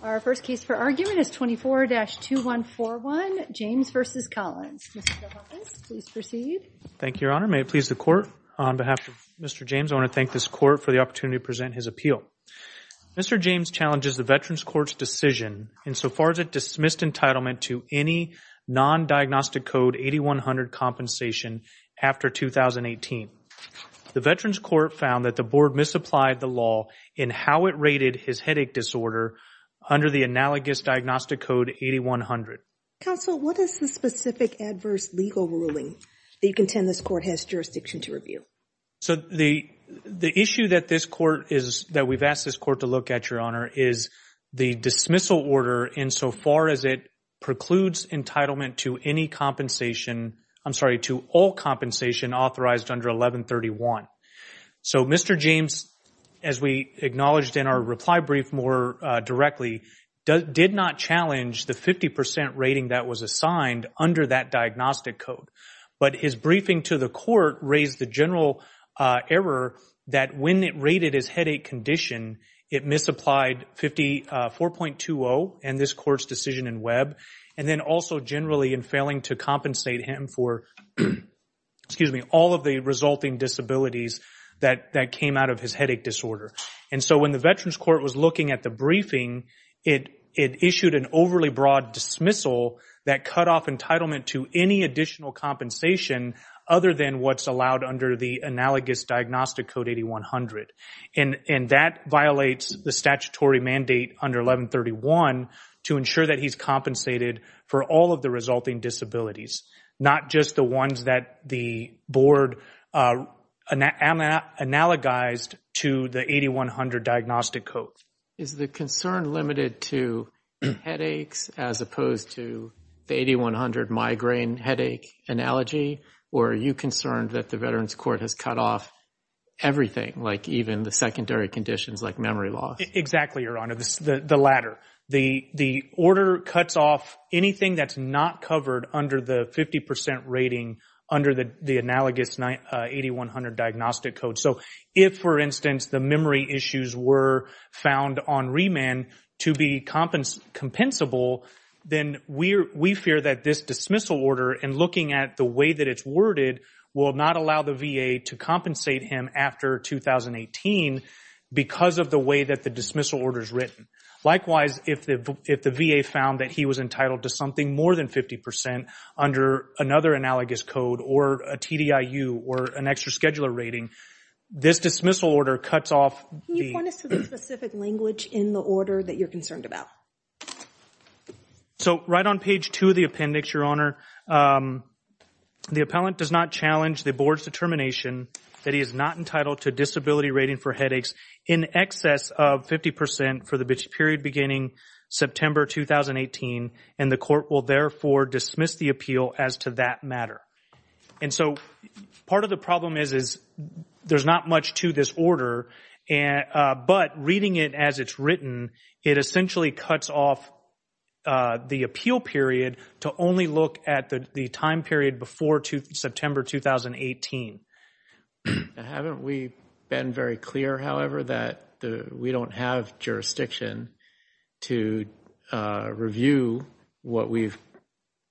Our first case for argument is 24-2141, James v. Collins. Mr. DePompis, please proceed. Thank you, Your Honor. May it please the Court, on behalf of Mr. James, I want to thank this Court for the opportunity to present his appeal. Mr. James challenges the Veterans Court's decision insofar as it dismissed entitlement to any non-diagnostic code 8100 compensation after 2018. The Veterans Court found that the Board misapplied the law in how it rated his headache disorder under the analogous diagnostic code 8100. Counsel, what is the specific adverse legal ruling that you contend this Court has jurisdiction to review? So the issue that this Court is, that we've asked this Court to look at, Your Honor, is the dismissal order insofar as it precludes entitlement to any compensation, I'm sorry, to all compensation authorized under 1131. So Mr. James, as we acknowledged in our reply brief more directly, did not challenge the 50% rating that was assigned under that diagnostic code. But his briefing to the Court raised the general error that when it rated his headache condition, it misapplied 54.20 and this Court's decision in Webb, and then also generally in failing to compensate him for, excuse me, all of the resulting disabilities that came out of his headache disorder. And so when the Veterans Court was looking at the briefing, it issued an overly broad dismissal that cut off entitlement to any additional compensation other than what's allowed under the analogous diagnostic code 8100. And that violates the statutory mandate under 1131 to ensure that he's compensated for all of the resulting disabilities, not just the ones that the Board analogized to the 8100 diagnostic code. Is the concern limited to headaches as opposed to the 8100 migraine headache analogy, or are you concerned that the Veterans Court has cut off everything, like even the secondary conditions like memory loss? Exactly, Your Honor. The latter. The order cuts off anything that's not covered under the 50% rating under the analogous 8100 diagnostic code. So if, for instance, the memory issues were found on remand to be compensable, then we fear that this dismissal order, in looking at the way that it's worded, will not allow the VA to compensate him after 2018 because of the way that the dismissal order is written. Likewise, if the VA found that he was entitled to something more than 50% under another analogous code or a TDIU or an extra scheduler rating, this dismissal order cuts off... Can you point us to the specific language in the order that you're concerned about? So right on page 2 of the appendix, Your Honor, the appellant does not challenge the Board's determination that he is not entitled to disability rating for headaches in excess of 50% for the period beginning September 2018 and the court will therefore dismiss the appeal as to that matter. And so part of the problem is is there's not much to this order, but reading it as it's written, it essentially cuts off the appeal period to only look at the time period before September 2018. Now, haven't we been very clear, however, that we don't have jurisdiction to review what we've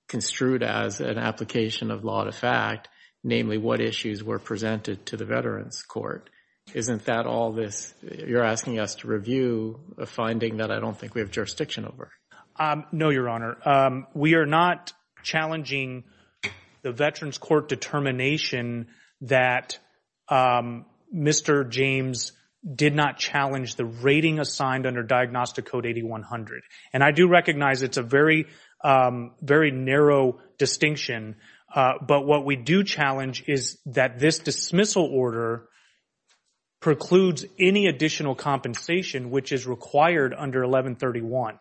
construed as an application of law to fact, namely what issues were presented to the Veterans Court? Isn't that all this? You're asking us to review a finding that I don't think we have jurisdiction over. No, Your Honor. We are not challenging the Veterans Court determination that Mr. James did not challenge the rating assigned under Diagnostic Code 8100. And I do recognize it's a very narrow distinction, but what we do challenge is that this dismissal order precludes any additional compensation which is required under 1131.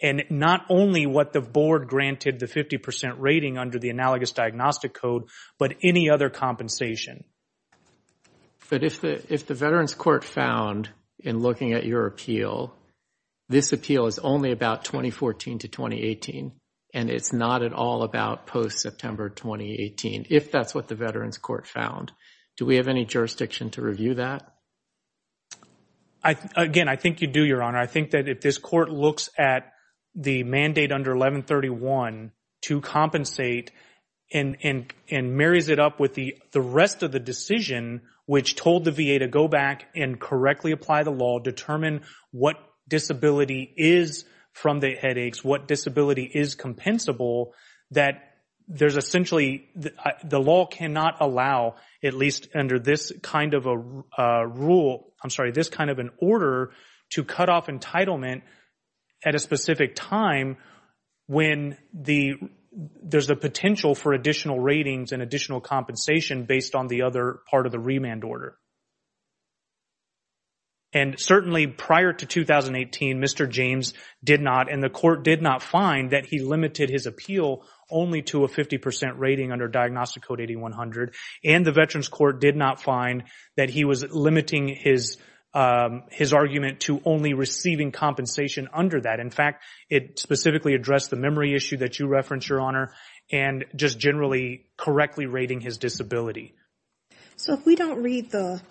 And not only what the Board granted the 50% rating under the analogous Diagnostic Code, but any other compensation. But if the Veterans Court found in looking at your appeal, this appeal is only about 2014 to 2018 and it's not at all about post-September 2018, if that's what the Veterans Court found. Do we have any jurisdiction to review that? Again, I think you do, Your Honor. I think that if this Court looks at the mandate under 1131 to compensate and marries it up with the rest of the decision which told the VA to go back and correctly apply the law, determine what disability is from the headaches, what disability is compensable, that there's essentially the law cannot allow, at least under this kind of a rule, I'm sorry, this kind of an order to cut off entitlement at a specific time when there's the potential for additional ratings and additional compensation based on the other part of the remand order. And certainly prior to 2018, Mr. James did not, and the Court did not find that he limited his appeal only to a 50% rating under Diagnostic Code 8100 and the Veterans Court did not find that he was limiting his argument to only receiving compensation under that. In fact, it specifically addressed the memory issue that you referenced, Your Honor, and just generally correctly rating his disability. So if we don't read the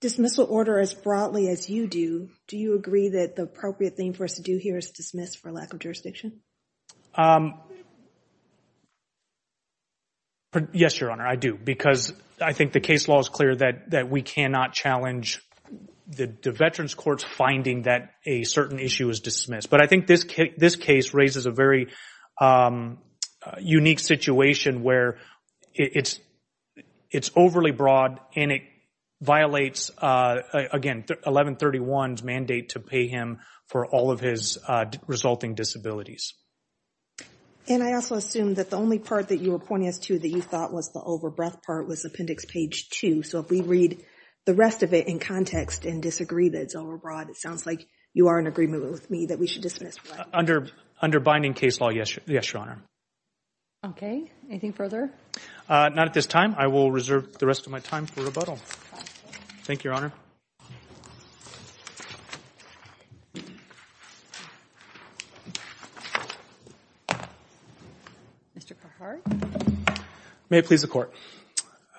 dismissal order as broadly as you do, do you agree that the appropriate thing for us to do here is dismiss for lack of jurisdiction? Yes, Your Honor, I do. Because I think the case law is clear that we cannot challenge the Veterans Court's finding that a certain issue is dismissed. But I think this case raises a very unique situation where it's overly broad and it violates, again, 1131's mandate to pay him for all of his resulting disabilities. And I also assume that the only part that you were pointing us to that you thought was the over-breath part was Appendix Page 2. So if we read the rest of it in context and disagree that it's over-broad, it sounds like you are in agreement with me that we should dismiss for that. Under binding case law, yes, Your Honor. Okay. Anything further? Not at this time. I will reserve the rest of my time for rebuttal. Thank you, Your Honor. Mr. Carhart? May it please the Court.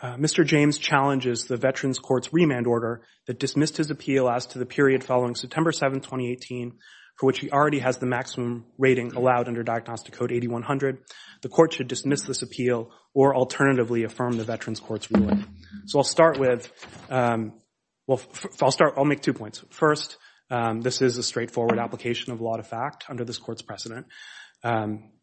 Mr. James challenges the Veterans Court's remand order that dismissed his appeal as to the period following September 7, 2018, for which he already has the maximum rating allowed under Diagnostic Code 8100. The Court should dismiss this appeal or alternatively affirm the Veterans Court's ruling. So I'll start with, I'll make two points. First, this is a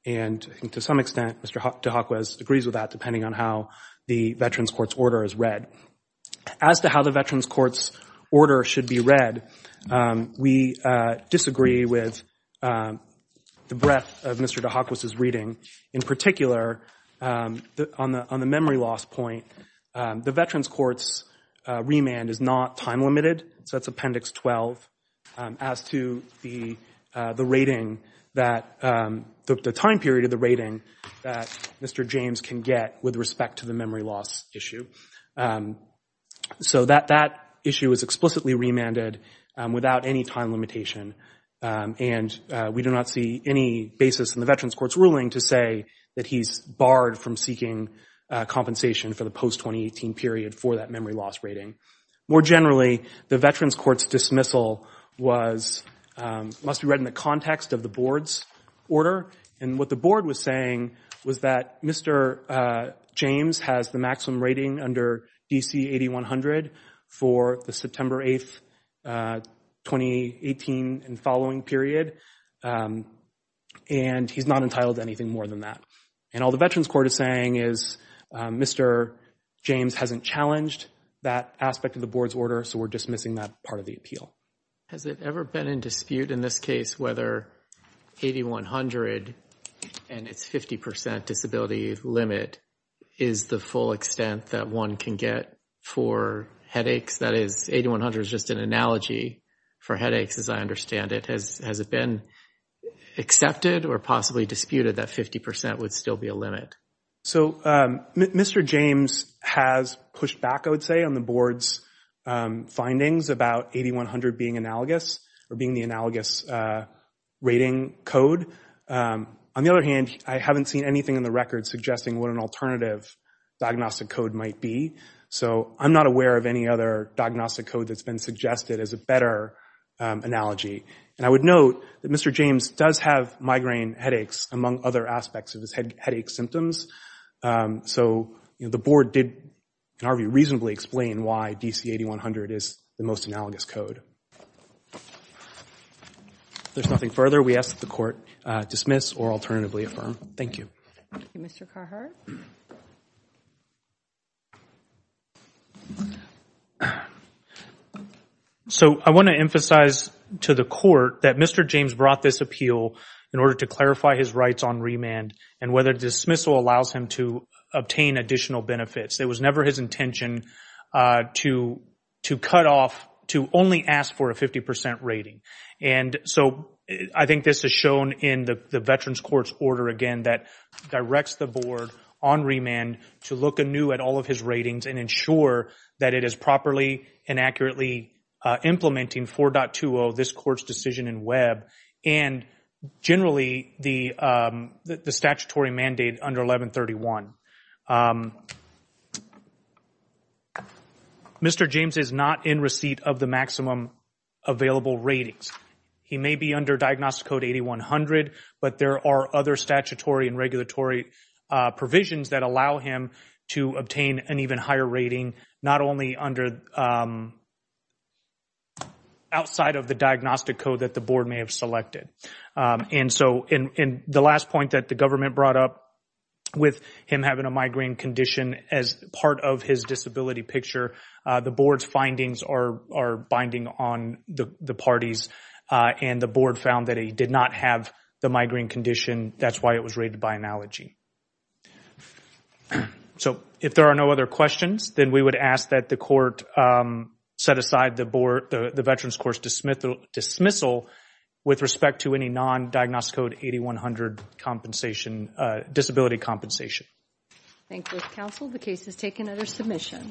and to some extent, Mr. DeHakwa agrees with that depending on how the Veterans Court's order is read. As to how the Veterans Court's order should be read, we disagree with the breadth of Mr. DeHakwa's reading. In particular, on the memory loss point, the Veterans Court's remand is not time-limited. So that's Appendix 12. As to the rating, the time period of the rating that Mr. James can get with respect to the memory loss issue. So that issue is explicitly remanded without any time limitation. And we do not see any basis in the Veterans Court's ruling to say that he's barred from seeking compensation for the post-2018 period for that memory loss rating. More generally, the Veterans Court's dismissal must be read in the context of the Board's order. And what the Board was saying was that Mr. James has the maximum rating under DC 8100 for the September 8, 2018 and following period. And he's not entitled to anything more than that. And all the Veterans Court is saying is Mr. James hasn't challenged that aspect of the Board's order. So we're dismissing that part of the appeal. Has it ever been in dispute in this case whether 8100 and its 50% disability limit is the full extent that one can get for headaches? That is, 8100 is just an analogy for headaches as I understand it. Has it been accepted or possibly disputed that 50% would still be a limit? So Mr. James has pushed back, I would say, on the Board's findings about 8100 being analogous or being the analogous rating code. On the other hand, I haven't seen anything in the record suggesting what an alternative diagnostic code might be. So I'm not aware of any other diagnostic code that's been suggested as a better analogy. And I would note that Mr. James has had migraine headaches among other aspects of his headache symptoms. So the Board did, in our view, reasonably explain why DC 8100 is the most analogous code. If there's nothing further, we ask that the Court dismiss or alternatively affirm. Thank you. Thank you, Mr. Carhart. So I want to emphasize to the Court that Mr. James brought this appeal in order to clarify his rights on remand and whether dismissal allows him to obtain additional benefits. It was never his intention to cut off, to only ask for a 50% rating. And so I think this is shown in the Veterans Court's order again that directs the Board on remand to look anew at all of his ratings and ensure that it is properly and accurately implementing 4.20, this Court's decision in Webb, and generally the statutory mandate under 1131. Mr. James is not in receipt of the maximum available ratings. He may be under diagnostic code 8100, but there are other statutory and regulatory provisions that allow him to obtain an even higher rating, not only outside of the diagnostic code that the Board may have selected. And so in the last point that the Government brought up with him having a migraine condition as part of his disability picture, the Board's findings are binding on the parties and the Board found that he did not have the migraine condition. That's why it was rated by analogy. So if there are no other questions, then we would ask that the Court set aside the Veterans Court's dismissal with respect to any non-diagnostic code 8100 disability compensation. Thank you, Counsel. The case is taken under submission.